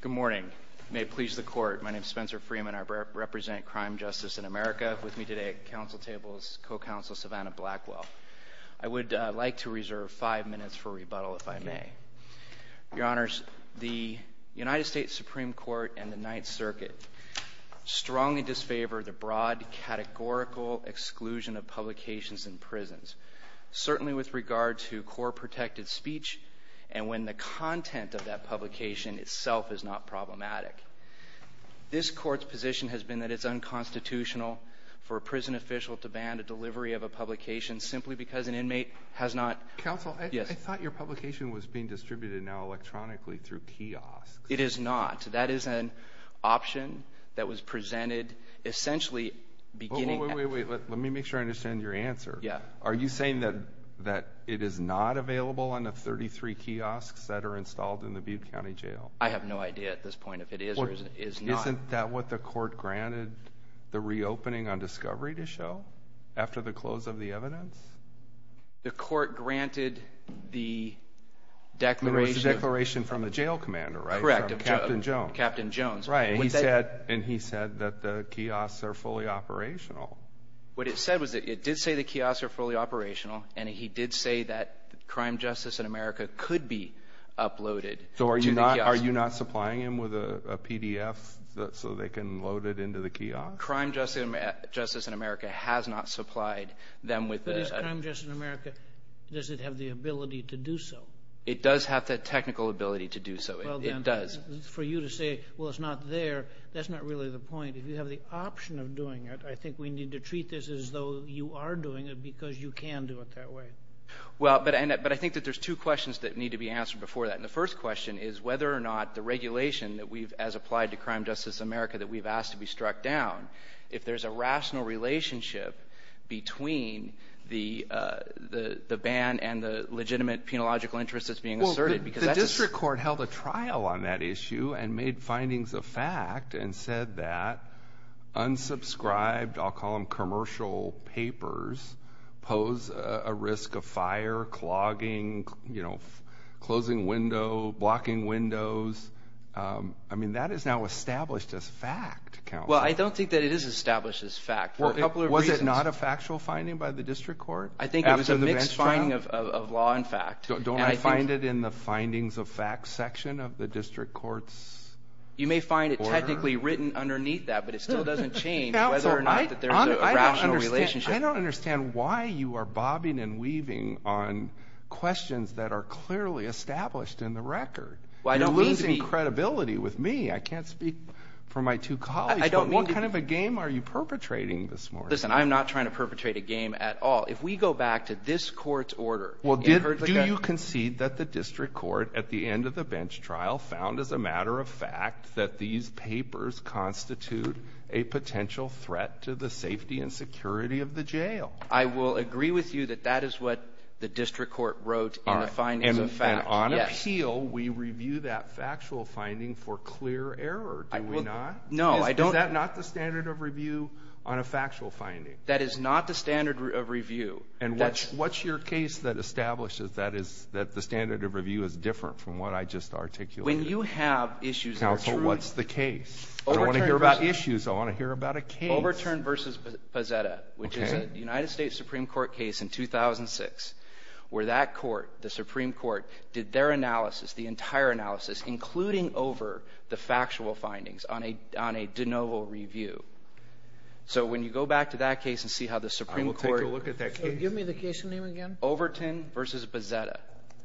Good morning. May it please the Court, my name is Spencer Freeman, I represent Crime Justice & America, with me today at Council Tables is Co-Counsel Savannah Blackwell. I would like to reserve five minutes for rebuttal, if I may. Your Honors, the United States Supreme Court and the Ninth Circuit strongly disfavor the broad, categorical exclusion of publications in prisons, certainly with regard to core protected speech, and when the content of that publication itself is not problematic. This Court's position has been that it's unconstitutional for a prison official to ban the delivery of a publication, simply because an inmate has not- Counsel, I thought your publication was being distributed now electronically through kiosks. It is not. That is an option that was presented essentially beginning- Wait, wait, wait, let me make sure I understand your answer. Are you saying that it is not free kiosks that are installed in the Butte County Jail? I have no idea at this point if it is or is not. Well, isn't that what the Court granted the reopening on Discovery to show, after the close of the evidence? The Court granted the declaration- It was the declaration from the jail commander, right? Correct. From Captain Jones. Captain Jones. Right, and he said that the kiosks are fully operational. What it said was that it did say the kiosks are fully operational, and he did say that Crime, Justice, and America could be uploaded to the kiosks. So are you not supplying them with a PDF so they can load it into the kiosks? Crime, Justice, and America has not supplied them with the- But is Crime, Justice, and America, does it have the ability to do so? It does have the technical ability to do so. It does. For you to say, well, it's not there, that's not really the point. If you have the option of doing it, I think we need to treat this as though you are doing it because you can do it that way. Well, but I think that there's two questions that need to be answered before that. And the first question is whether or not the regulation that we've, as applied to Crime, Justice, and America, that we've asked to be struck down, if there's a rational relationship between the ban and the legitimate penological interest that's being asserted, because that's- Well, the district court held a trial on that issue and made findings of fact and said that unsubscribed, I'll call them commercial papers, pose a risk of fire, clogging, closing windows, blocking windows. I mean, that is now established as fact, counsel. Well, I don't think that it is established as fact. For a couple of reasons- Was it not a factual finding by the district court? I think it was a mixed finding of law and fact. Don't I find it in the findings of fact section of the district court's order? It's technically written underneath that, but it still doesn't change whether or not that there's a rational relationship. I don't understand why you are bobbing and weaving on questions that are clearly established in the record. Well, I don't mean to be- You're losing credibility with me. I can't speak for my two colleagues. I don't mean to be- What kind of a game are you perpetrating this morning? Listen, I'm not trying to perpetrate a game at all. If we go back to this court's order- Well, do you concede that the district court, at the end of the bench trial, found as a fact that these papers constitute a potential threat to the safety and security of the jail? I will agree with you that that is what the district court wrote in the findings of fact. All right. And on appeal, we review that factual finding for clear error, do we not? No, I don't- Is that not the standard of review on a factual finding? That is not the standard of review. And what's your case that establishes that is the standard of review is different from what I just articulated? When you have issues- What's the case? I don't want to hear about issues. I want to hear about a case. Overturn v. Pazetta, which is a United States Supreme Court case in 2006, where that court, the Supreme Court, did their analysis, the entire analysis, including over the factual findings on a de novo review. So when you go back to that case and see how the Supreme Court- I will take a look at that case. Give me the case name again. Overturn v. Pazetta.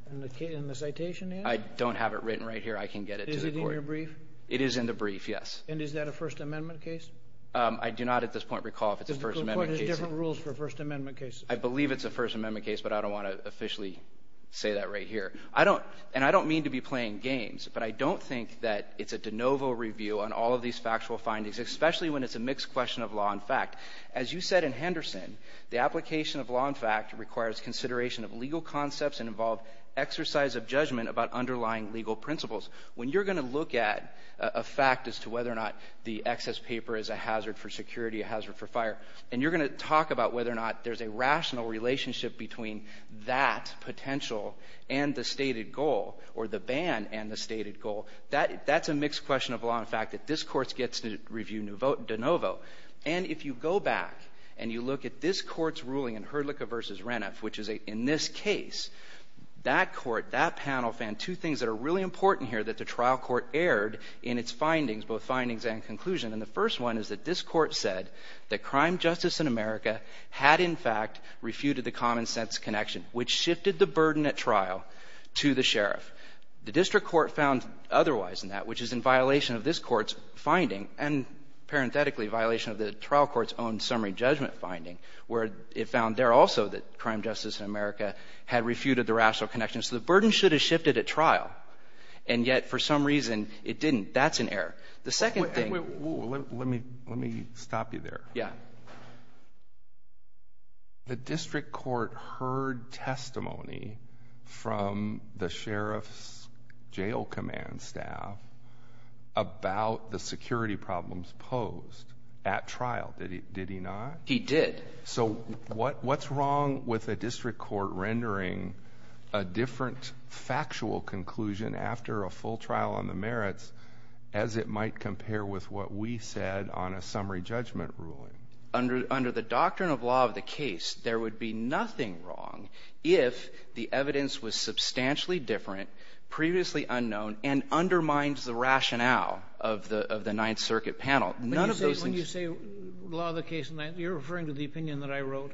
And the citation name? I don't have it written right here. I can get it to the court. Is it in your brief? It is in the brief, yes. And is that a First Amendment case? I do not at this point recall if it's a First Amendment case. There's different rules for First Amendment cases. I believe it's a First Amendment case, but I don't want to officially say that right here. I don't- and I don't mean to be playing games, but I don't think that it's a de novo review on all of these factual findings, especially when it's a mixed question of law and fact. As you said in Henderson, the application of law and fact requires consideration of legal concepts and involved exercise of judgment about underlying legal principles. When you're going to look at a fact as to whether or not the excess paper is a hazard for security, a hazard for fire, and you're going to talk about whether or not there's a rational relationship between that potential and the stated goal, or the ban and the stated goal, that's a mixed question of law and fact that this court gets to review de novo. And if you go back and you look at this court's ruling in Hurlica v. Reniff, which is in this case, that court, that panel found two things that are really important here that the trial court aired in its findings, both findings and conclusion. And the first one is that this court said that crime justice in America had in fact refuted the common sense connection, which shifted the burden at trial to the sheriff. The district court found otherwise in that, which is in violation of this court's finding and parenthetically violation of the trial court's own summary judgment finding, where it found there also that crime justice in America had refuted the rational connection. So the burden should have shifted at trial, and yet for some reason it didn't. That's an error. The second thing... Wait, wait, wait. Let me stop you there. Yeah. The district court heard testimony from the sheriff's jail command staff about the security problems posed at trial, did he not? He did. So what's wrong with a district court rendering a different factual conclusion after a full trial on the merits as it might compare with what we said on a summary judgment ruling? Under the doctrine of law of the case, there would be nothing wrong if the evidence was substantially different, previously unknown, and undermines the rationale of the Ninth Circuit panel. None of those things... Are you referring to the opinion that I wrote?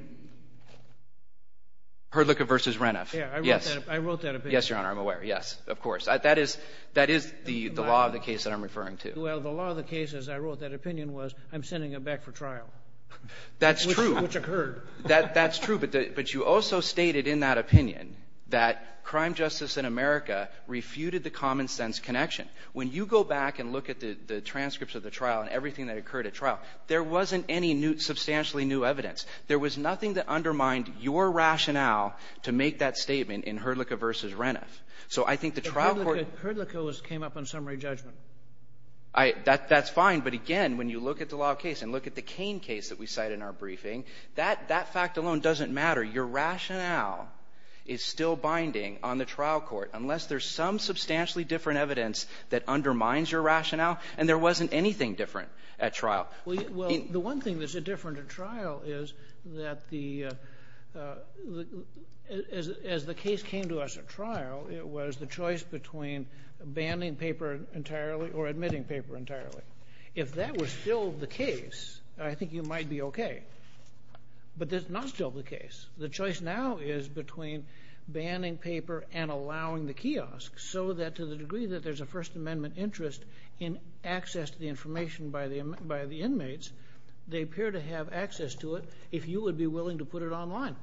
Hurdlicka v. Reniff. Yeah. I wrote that opinion. Yes, Your Honor. I'm aware. Yes. Of course. That is the law of the case that I'm referring to. Well, the law of the case, as I wrote that opinion, was I'm sending him back for trial. That's true. Which occurred. That's true. But you also stated in that opinion that crime justice in America refuted the common-sense connection. When you go back and look at the transcripts of the trial and everything that occurred at trial, there wasn't any substantially new evidence. There was nothing that undermined your rationale to make that statement in Hurdlicka v. Reniff. So I think the trial court... But Hurdlicka came up on summary judgment. That's fine. But again, when you look at the law of the case and look at the Cain case that we cite in our briefing, that fact alone doesn't matter. Your rationale is still binding on the trial court, unless there's some substantially different evidence that undermines your rationale. And there wasn't anything different at trial. Well, the one thing that's different at trial is that the — as the case came to us at trial, it was the choice between banning paper entirely or admitting paper entirely. If that was still the case, I think you might be okay. But that's not still the case. The choice now is between banning paper and allowing the kiosk, so that to the degree that there's a First Amendment interest in access to the information by the inmates, they appear to have access to it if you would be willing to put it online.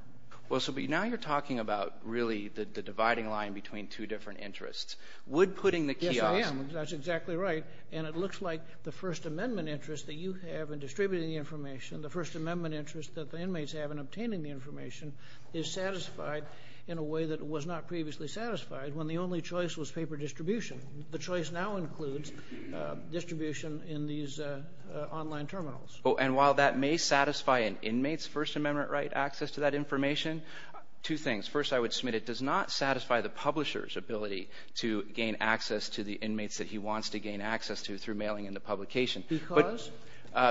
Well, so now you're talking about, really, the dividing line between two different interests. Would putting the kiosk... Yes, I am. That's exactly right. And it looks like the First Amendment interest that you have in distributing the information, the First Amendment interest that the inmates have in obtaining the information, is satisfied in a way that it was not previously satisfied, when the only choice was paper distribution. The choice now includes distribution in these online terminals. Oh, and while that may satisfy an inmate's First Amendment right, access to that information, two things. First, I would submit it does not satisfy the publisher's ability to gain access to the inmates that he wants to gain access to through mailing in the publication. Because?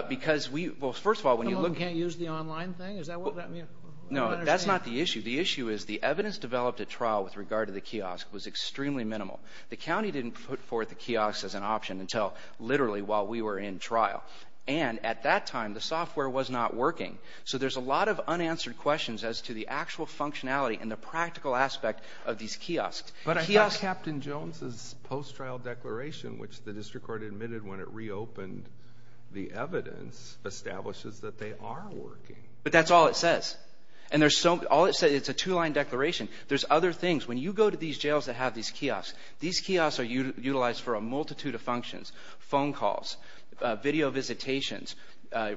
Because we — well, first of all, when you look at... Someone who can't use the online thing? Is that what that means? No, that's not the issue. The issue is the evidence developed at trial with regard to the kiosk was extremely minimal. The county didn't put forth a kiosk as an option until literally while we were in trial. And at that time, the software was not working. So there's a lot of unanswered questions as to the actual functionality and the practical aspect of these kiosks. But I thought Captain Jones' post-trial declaration, which the district court admitted when it reopened the evidence, establishes that they are working. But that's all it says. And there's so — all it says, it's a two-line declaration. There's other things. When you go to these jails that have these kiosks, these kiosks are utilized for a multitude of functions. Phone calls, video visitations,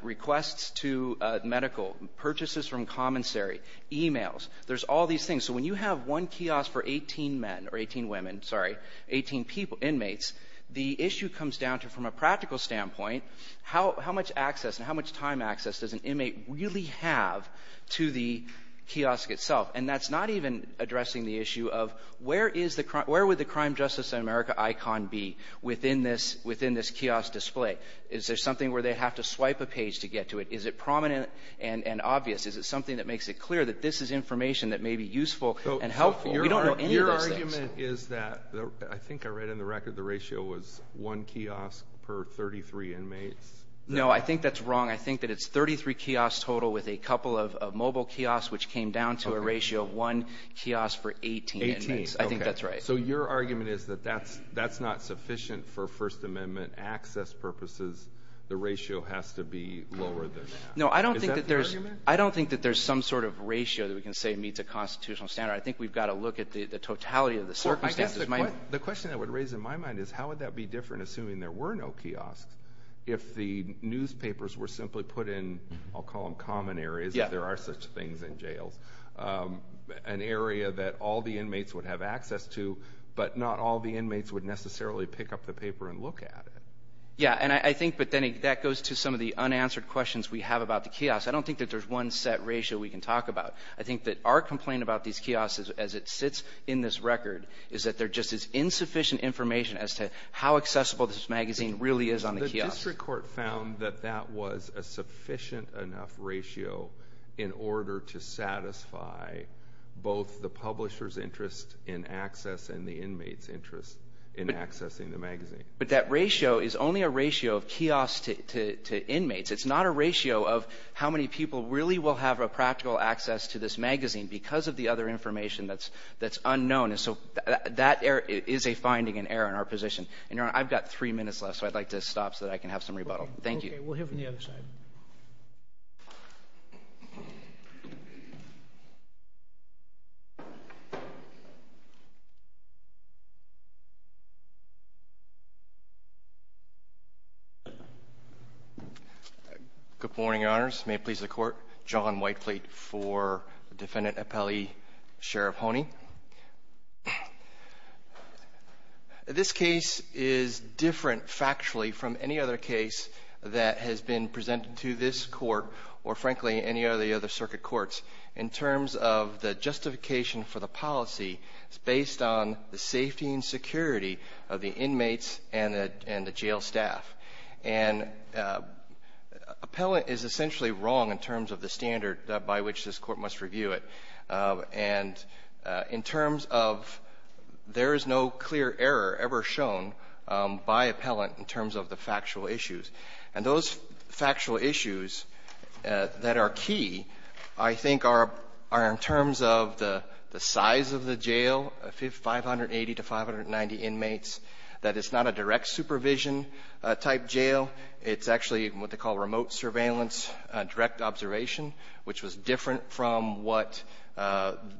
requests to medical, purchases from commissary, e-mails. There's all these things. So when you have one kiosk for 18 men — or 18 women, sorry — 18 inmates, the issue comes down to, from a practical standpoint, how much access and how much time access does an inmate really have to the kiosk itself? And that's not even addressing the issue of where is the — where would the Crime, Justice, and America icon be within this — within this kiosk display? Is there something where they have to swipe a page to get to it? Is it prominent and obvious? Is it something that makes it clear that this is information that may be useful and helpful? We don't know any of those things. Your argument is that — I think I read in the record the ratio was one kiosk per 33 inmates. No, I think that's wrong. I think that it's 33 kiosks total with a couple of mobile kiosks, which came down to a ratio of one kiosk for 18 inmates. Eighteen, okay. I think that's right. So your argument is that that's not sufficient for First Amendment access purposes. The ratio has to be lower than that. Is that the argument? No, I don't think that there's some sort of ratio that we can say meets a constitutional standard. I think we've got to look at the totality of the circumstances. The question that would raise in my mind is how would that be different, assuming there were no kiosks? If the newspapers were simply put in, I'll call them common areas, if there are such things in jails. An area that all the inmates would have access to, but not all the inmates would necessarily pick up the paper and look at it. Yeah, and I think that goes to some of the unanswered questions we have about the kiosks. I don't think that there's one set ratio we can talk about. I think that our complaint about these kiosks, as it sits in this record, is that they're just as insufficient information as to how accessible this kiosk is. The district court found that that was a sufficient enough ratio in order to satisfy both the publisher's interest in access and the inmate's interest in accessing the magazine. But that ratio is only a ratio of kiosks to inmates. It's not a ratio of how many people really will have a practical access to this magazine because of the other information that's unknown. And so that is a finding in error in our position. And, Your Honor, I've got three minutes left, so I'd like to stop so that I can have some rebuttal. Thank you. Okay. We'll hear from the other side. Good morning, Your Honors. May it please the Court. John Whiteplate for Defendant Appelli, Sheriff Honey. Thank you, Your Honor. This case is different factually from any other case that has been presented to this court or, frankly, any of the other circuit courts in terms of the justification for the policy. It's based on the safety and security of the inmates and the jail staff. And Appelli is essentially wrong in terms of the standard by which this court must review it. And in terms of there is no clear error ever shown by Appellant in terms of the factual issues. And those factual issues that are key, I think, are in terms of the size of the jail, 580 to 590 inmates, that it's not a direct supervision-type jail. It's actually what they call remote surveillance, direct observation, which was different from what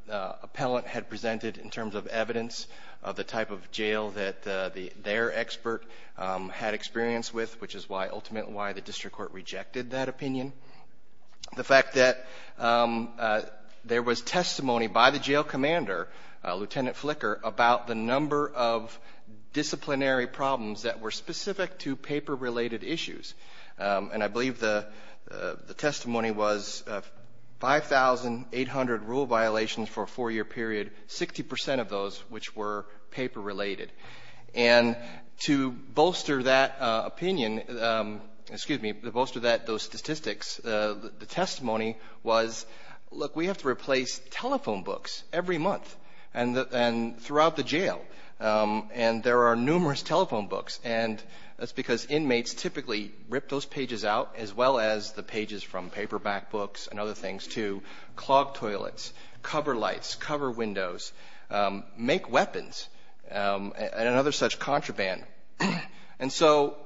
Appellant had presented in terms of evidence of the type of jail that their expert had experience with, which is ultimately why the district court rejected that opinion. The fact that there was testimony by the jail commander, Lieutenant Flicker, about the number of disciplinary problems that were specific to paper-related issues. And I believe the testimony was 5,800 rule violations for a four-year period, 60 percent of those which were paper-related. And to bolster that opinion, excuse me, to bolster that, those statistics, the testimony was, look, we have to replace telephone books every month and throughout the jail. And there are numerous telephone books. And that's because inmates typically rip those pages out, as well as the pages from paperback books and other things, to clog toilets, cover lights, cover windows, make weapons, and another such contraband. And so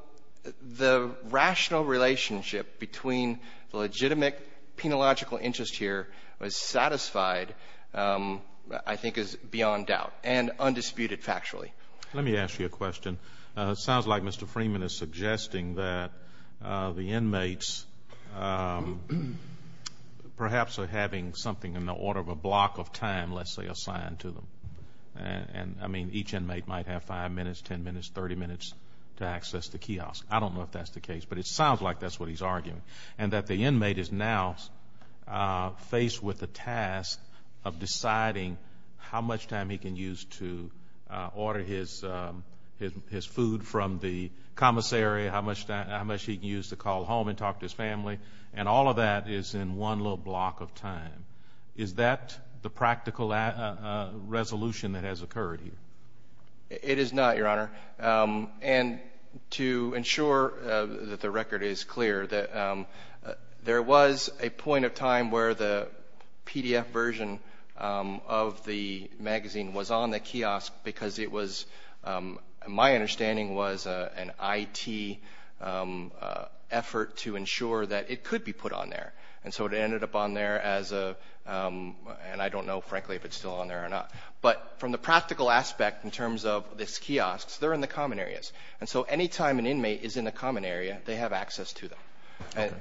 the rational relationship between the legitimate penological interest here was satisfied, I think is beyond doubt and undisputed factually. Let me ask you a question. It sounds like Mr. Freeman is suggesting that the inmates perhaps are having something in the order of a block of time, let's say, assigned to them. I mean, each inmate might have five minutes, ten minutes, 30 minutes to access the kiosk. I don't know if that's the case, but it sounds like that's what he's arguing. And that the inmate is now faced with the task of deciding how much time he can use to get his food from the commissary, how much he can use to call home and talk to his family. And all of that is in one little block of time. Is that the practical resolution that has occurred here? It is not, Your Honor. And to ensure that the record is clear, there was a point of time where the PDF version of the magazine was on the kiosk because it was, in my understanding, was an IT effort to ensure that it could be put on there. And so it ended up on there as a – and I don't know, frankly, if it's still on there or not. But from the practical aspect in terms of this kiosk, they're in the common areas. And so any time an inmate is in the common area, they have access to them.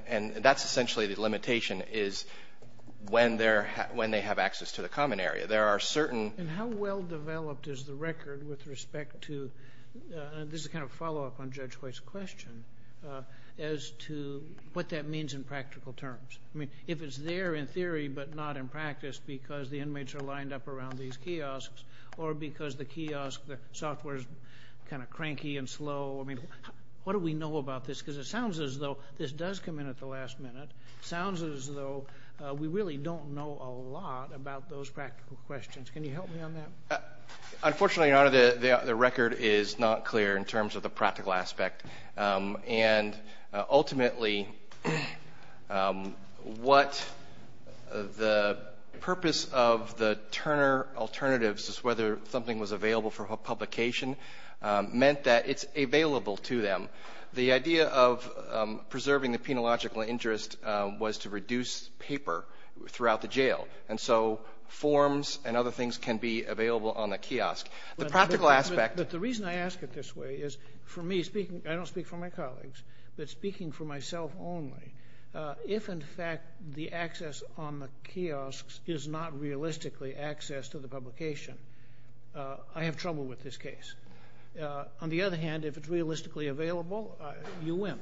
And that's essentially the limitation is when they have access to the common area. There are certain – And how well developed is the record with respect to – this is kind of a follow-up on Judge White's question – as to what that means in practical terms? I mean, if it's there in theory but not in practice because the inmates are lined up around these kiosks or because the kiosk software is kind of cranky and slow, I mean, what do we know about this? Because it sounds as though this does come in at the last minute. It sounds as though we really don't know a lot about those practical questions. Can you help me on that? Unfortunately, Your Honor, the record is not clear in terms of the practical aspect. And ultimately, what the purpose of the Turner alternatives is, whether something was available for publication, meant that it's available to them. The idea of preserving the penological interest was to reduce paper throughout the jail. And so forms and other things can be available on the kiosk. The practical aspect – But the reason I ask it this way is, for me, speaking – I don't speak for my colleagues, but speaking for myself only, if in fact the access on the kiosks is not realistically access to the publication, I have trouble with this case. On the other hand, if it's realistically available, you win.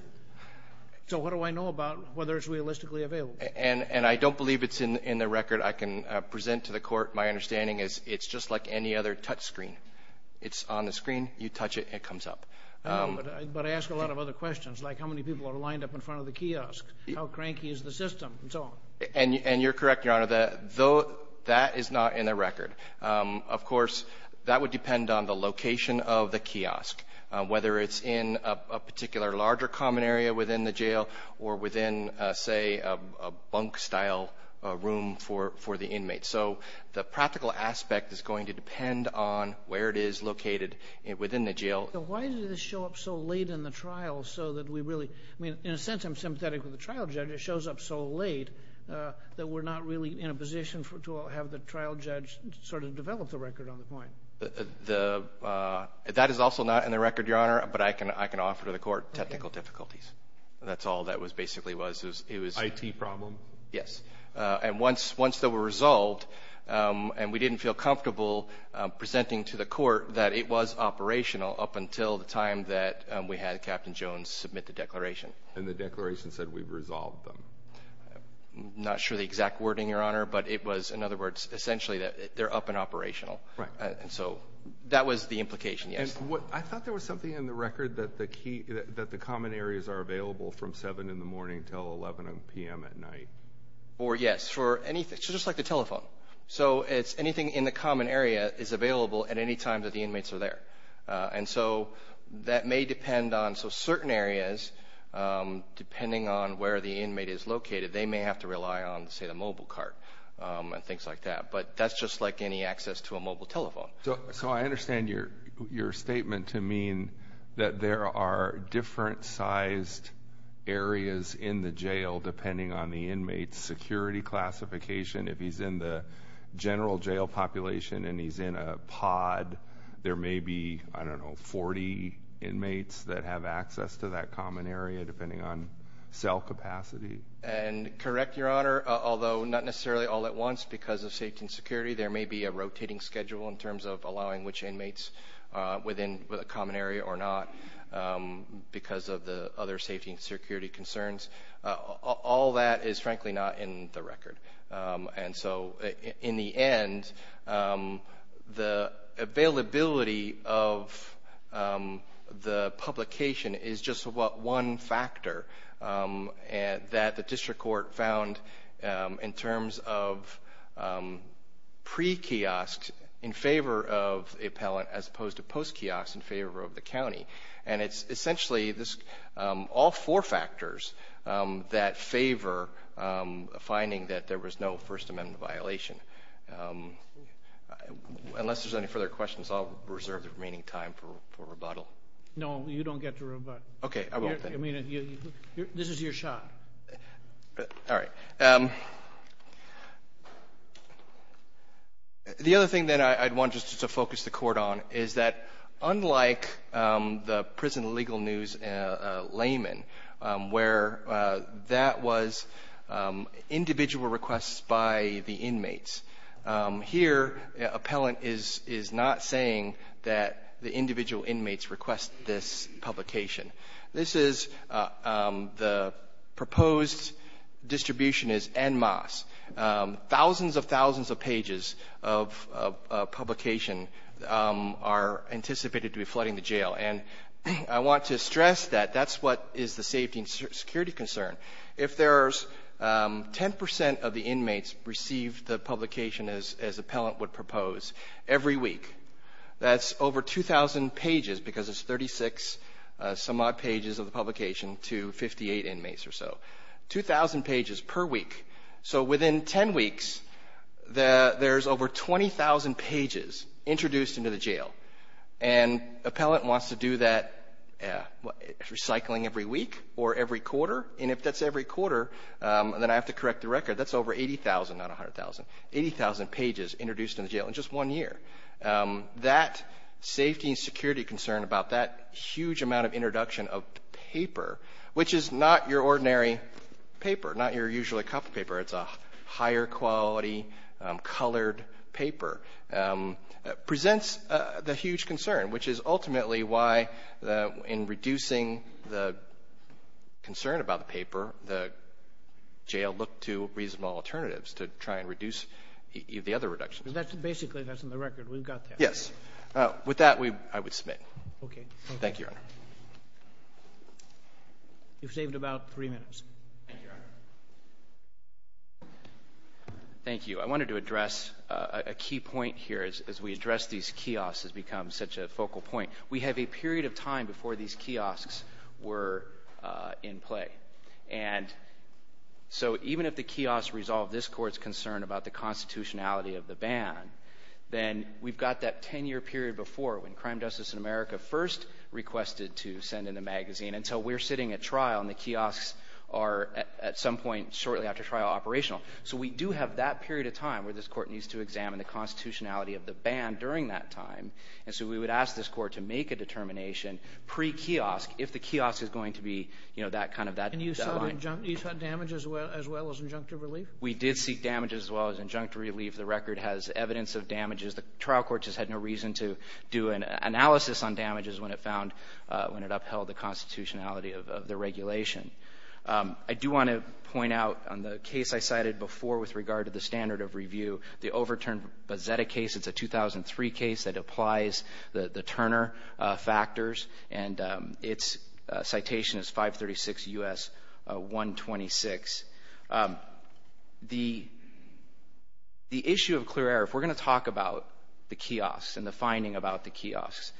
So what do I know about whether it's realistically available? And I don't believe it's in the record I can present to the court. My understanding is it's just like any other touch screen. It's on the screen. You touch it. It comes up. But I ask a lot of other questions, like how many people are lined up in front of the kiosk, how cranky is the system, and so on. And you're correct, Your Honor, that that is not in the record. Of course, that would depend on the location of the kiosk, whether it's in a particular larger common area within the jail or within, say, a bunk-style room for the inmate. So the practical aspect is going to depend on where it is located within the jail. Why did this show up so late in the trial so that we really – I mean, in a sense, I'm sympathetic with the trial judge. It shows up so late that we're not really in a position to have the trial judge sort of develop the record on the point. That is also not in the record, Your Honor, but I can offer to the court technical difficulties. That's all that basically was. IT problem? Yes. And once they were resolved, and we didn't feel comfortable presenting to the court that it was operational up until the time that we had Captain Jones submit the declaration. And the declaration said, we've resolved them. I'm not sure the exact wording, Your Honor, but it was, in other words, essentially that they're up and operational. Right. And so that was the implication, yes. I thought there was something in the record that the common areas are available from 7 in the morning until 11 p.m. at night. Or, yes, for anything – just like the telephone. So it's anything in the common area is available at any time that the inmates are there. And so that may depend on – so certain areas, depending on where the inmate is located, they may have to rely on, say, the mobile cart and things like that. But that's just like any access to a mobile telephone. So I understand your statement to mean that there are different sized areas in the jail, depending on the inmate's security classification. If he's in the general jail population and he's in a pod, there may be, I don't know, 40 inmates that have access to that common area, depending on cell capacity. And correct, Your Honor, although not necessarily all at once because of safety and security, there may be a rotating schedule in terms of allowing which inmates within the common area or not because of the other safety and security concerns. All that is, frankly, not in the record. And so in the end, the availability of the publication is just about one factor that the district court found in terms of pre-kiosks in favor of appellant as opposed to post-kiosks in favor of the county. And it's essentially all four factors that favor finding that there was no First Amendment violation. Unless there's any further questions, I'll reserve the remaining time for rebuttal. No, you don't get to rebuttal. Okay. I won't then. I mean, this is your shot. All right. The other thing that I'd want just to focus the Court on is that unlike the prison legal news layman where that was individual requests by the inmates, here, appellant is not saying that the individual inmates request this publication. This is the proposed distribution is en masse. Thousands of thousands of pages of publication are anticipated to be flooding the jail. And I want to stress that that's what is the safety and security concern. If there's 10 percent of the inmates receive the publication as appellant would propose every week, that's over 2,000 pages because it's 36 some odd pages of the publication to 58 inmates or so, 2,000 pages per week. So within 10 weeks, there's over 20,000 pages introduced into the jail. And appellant wants to do that recycling every week or every quarter. And if that's every quarter, then I have to correct the record. That's over 80,000, not 100,000, 80,000 pages introduced in the jail. In just one year. That safety and security concern about that huge amount of introduction of paper, which is not your ordinary paper, not your usual cup of paper. It's a higher quality colored paper, presents the huge concern, which is ultimately why in reducing the concern about the paper, the jail looked to reasonable alternatives to try and reduce the other reductions. Basically, that's in the record. We've got that. Yes. With that, I would submit. Okay. Thank you, Your Honor. You've saved about three minutes. Thank you, Your Honor. Thank you. I wanted to address a key point here as we address these kiosks has become such a focal point. We have a period of time before these kiosks were in play. Even if the kiosk resolved this court's concern about the constitutionality of the ban, then we've got that 10-year period before when Crime, Justice, and America first requested to send in a magazine. We're sitting at trial, and the kiosks are at some point shortly after trial operational. We do have that period of time where this court needs to examine the constitutionality of the ban during that time. We would ask this court to make a determination pre-kiosk if the kiosk is going to be that line. And you sought damage as well as injunctive relief? We did seek damage as well as injunctive relief. The record has evidence of damages. The trial court just had no reason to do an analysis on damages when it upheld the constitutionality of the regulation. I do want to point out on the case I cited before with regard to the standard of review, the overturned Bozzetta case. It's a 2003 case that applies the Turner factors. And its citation is 536 U.S. 126. The issue of clear error, if we're going to talk about the kiosks and the finding about the kiosks,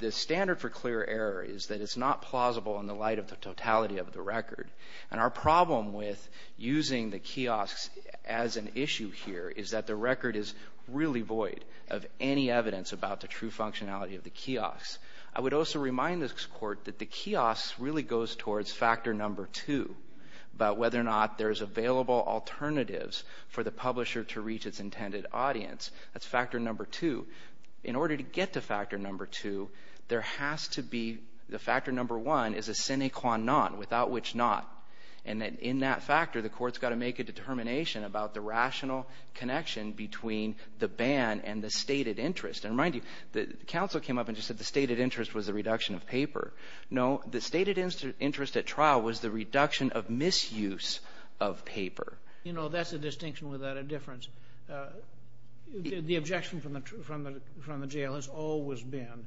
the standard for clear error is that it's not plausible in the light of the totality of the record. And our problem with using the kiosks as an issue here is that the record is really void of any evidence about the true functionality of the kiosks. I would also remind this court that the kiosks really goes towards factor number two, about whether or not there's available alternatives for the publisher to reach its intended audience. That's factor number two. In order to get to factor number two, there has to be the factor number one is a sine qua non, without which not. And in that factor, the court's got to make a determination about the rational connection between the ban and the stated interest. And mind you, the counsel came up and just said the stated interest was the reduction of paper. No, the stated interest at trial was the reduction of misuse of paper. You know, that's a distinction without a difference. The objection from the jail has always been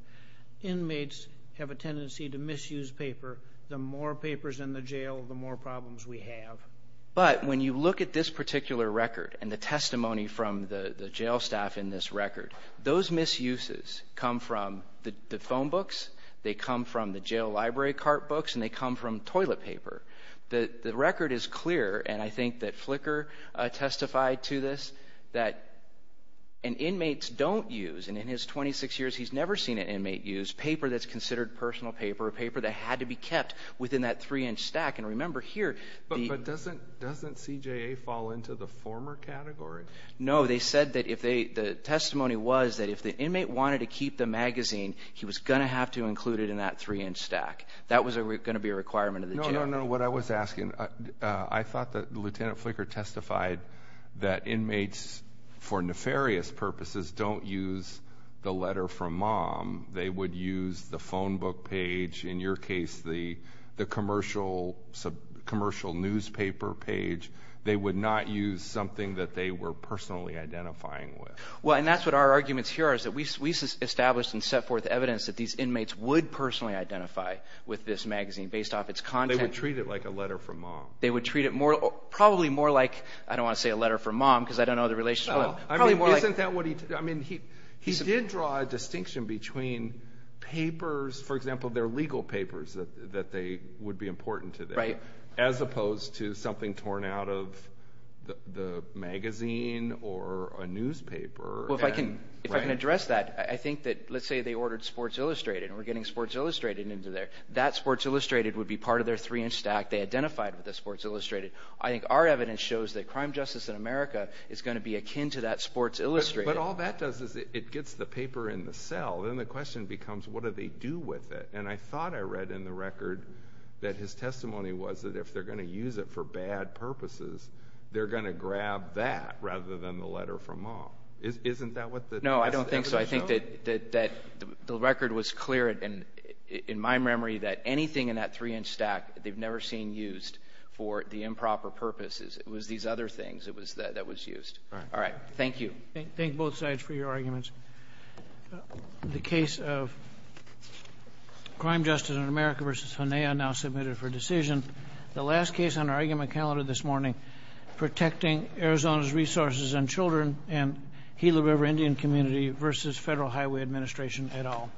inmates have a tendency to misuse paper. The more papers in the jail, the more problems we have. But when you look at this particular record and the testimony from the jail staff in this case, the misuses come from the phone books, they come from the jail library cart books, and they come from toilet paper. The record is clear, and I think that Flicker testified to this, that an inmate's don't use, and in his 26 years he's never seen an inmate use, paper that's considered personal paper, paper that had to be kept within that three-inch stack. And remember here... But doesn't CJA fall into the former category? No, they said that if they, the testimony was that if the inmate wanted to keep the magazine, he was going to have to include it in that three-inch stack. That was going to be a requirement of the jail. No, no, no. What I was asking, I thought that Lieutenant Flicker testified that inmates, for nefarious purposes, don't use the letter from mom. They would use the phone book page, in your case the commercial newspaper page. They would not use something that they were personally identifying with. Well, and that's what our arguments here are, is that we established and set forth evidence that these inmates would personally identify with this magazine, based off its content. They would treat it like a letter from mom. They would treat it more, probably more like, I don't want to say a letter from mom, because I don't know the relationship, but probably more like... Isn't that what he, I mean, he did draw a distinction between papers, for example, their legal papers that they, would be important to them. Right. As opposed to something torn out of the magazine or a newspaper. Well, if I can address that, I think that, let's say they ordered Sports Illustrated, and we're getting Sports Illustrated into there. That Sports Illustrated would be part of their three-inch stack. They identified with the Sports Illustrated. I think our evidence shows that crime justice in America is going to be akin to that Sports Illustrated. But all that does is it gets the paper in the cell. Then the question becomes, what do they do with it? And I thought I read in the record that his testimony was that if they're going to use it for bad purposes, they're going to grab that rather than the letter from mom. Isn't that what the testimony showed? No, I don't think so. I think that the record was clear in my memory that anything in that three-inch stack they've never seen used for the improper purposes. It was these other things that was used. All right. Thank you. Thank both sides for your arguments. The case of crime justice in America v. Henea now submitted for decision. The last case on our argument calendar this morning, protecting Arizona's resources and children and Gila River Indian community v. Federal Highway Administration et al.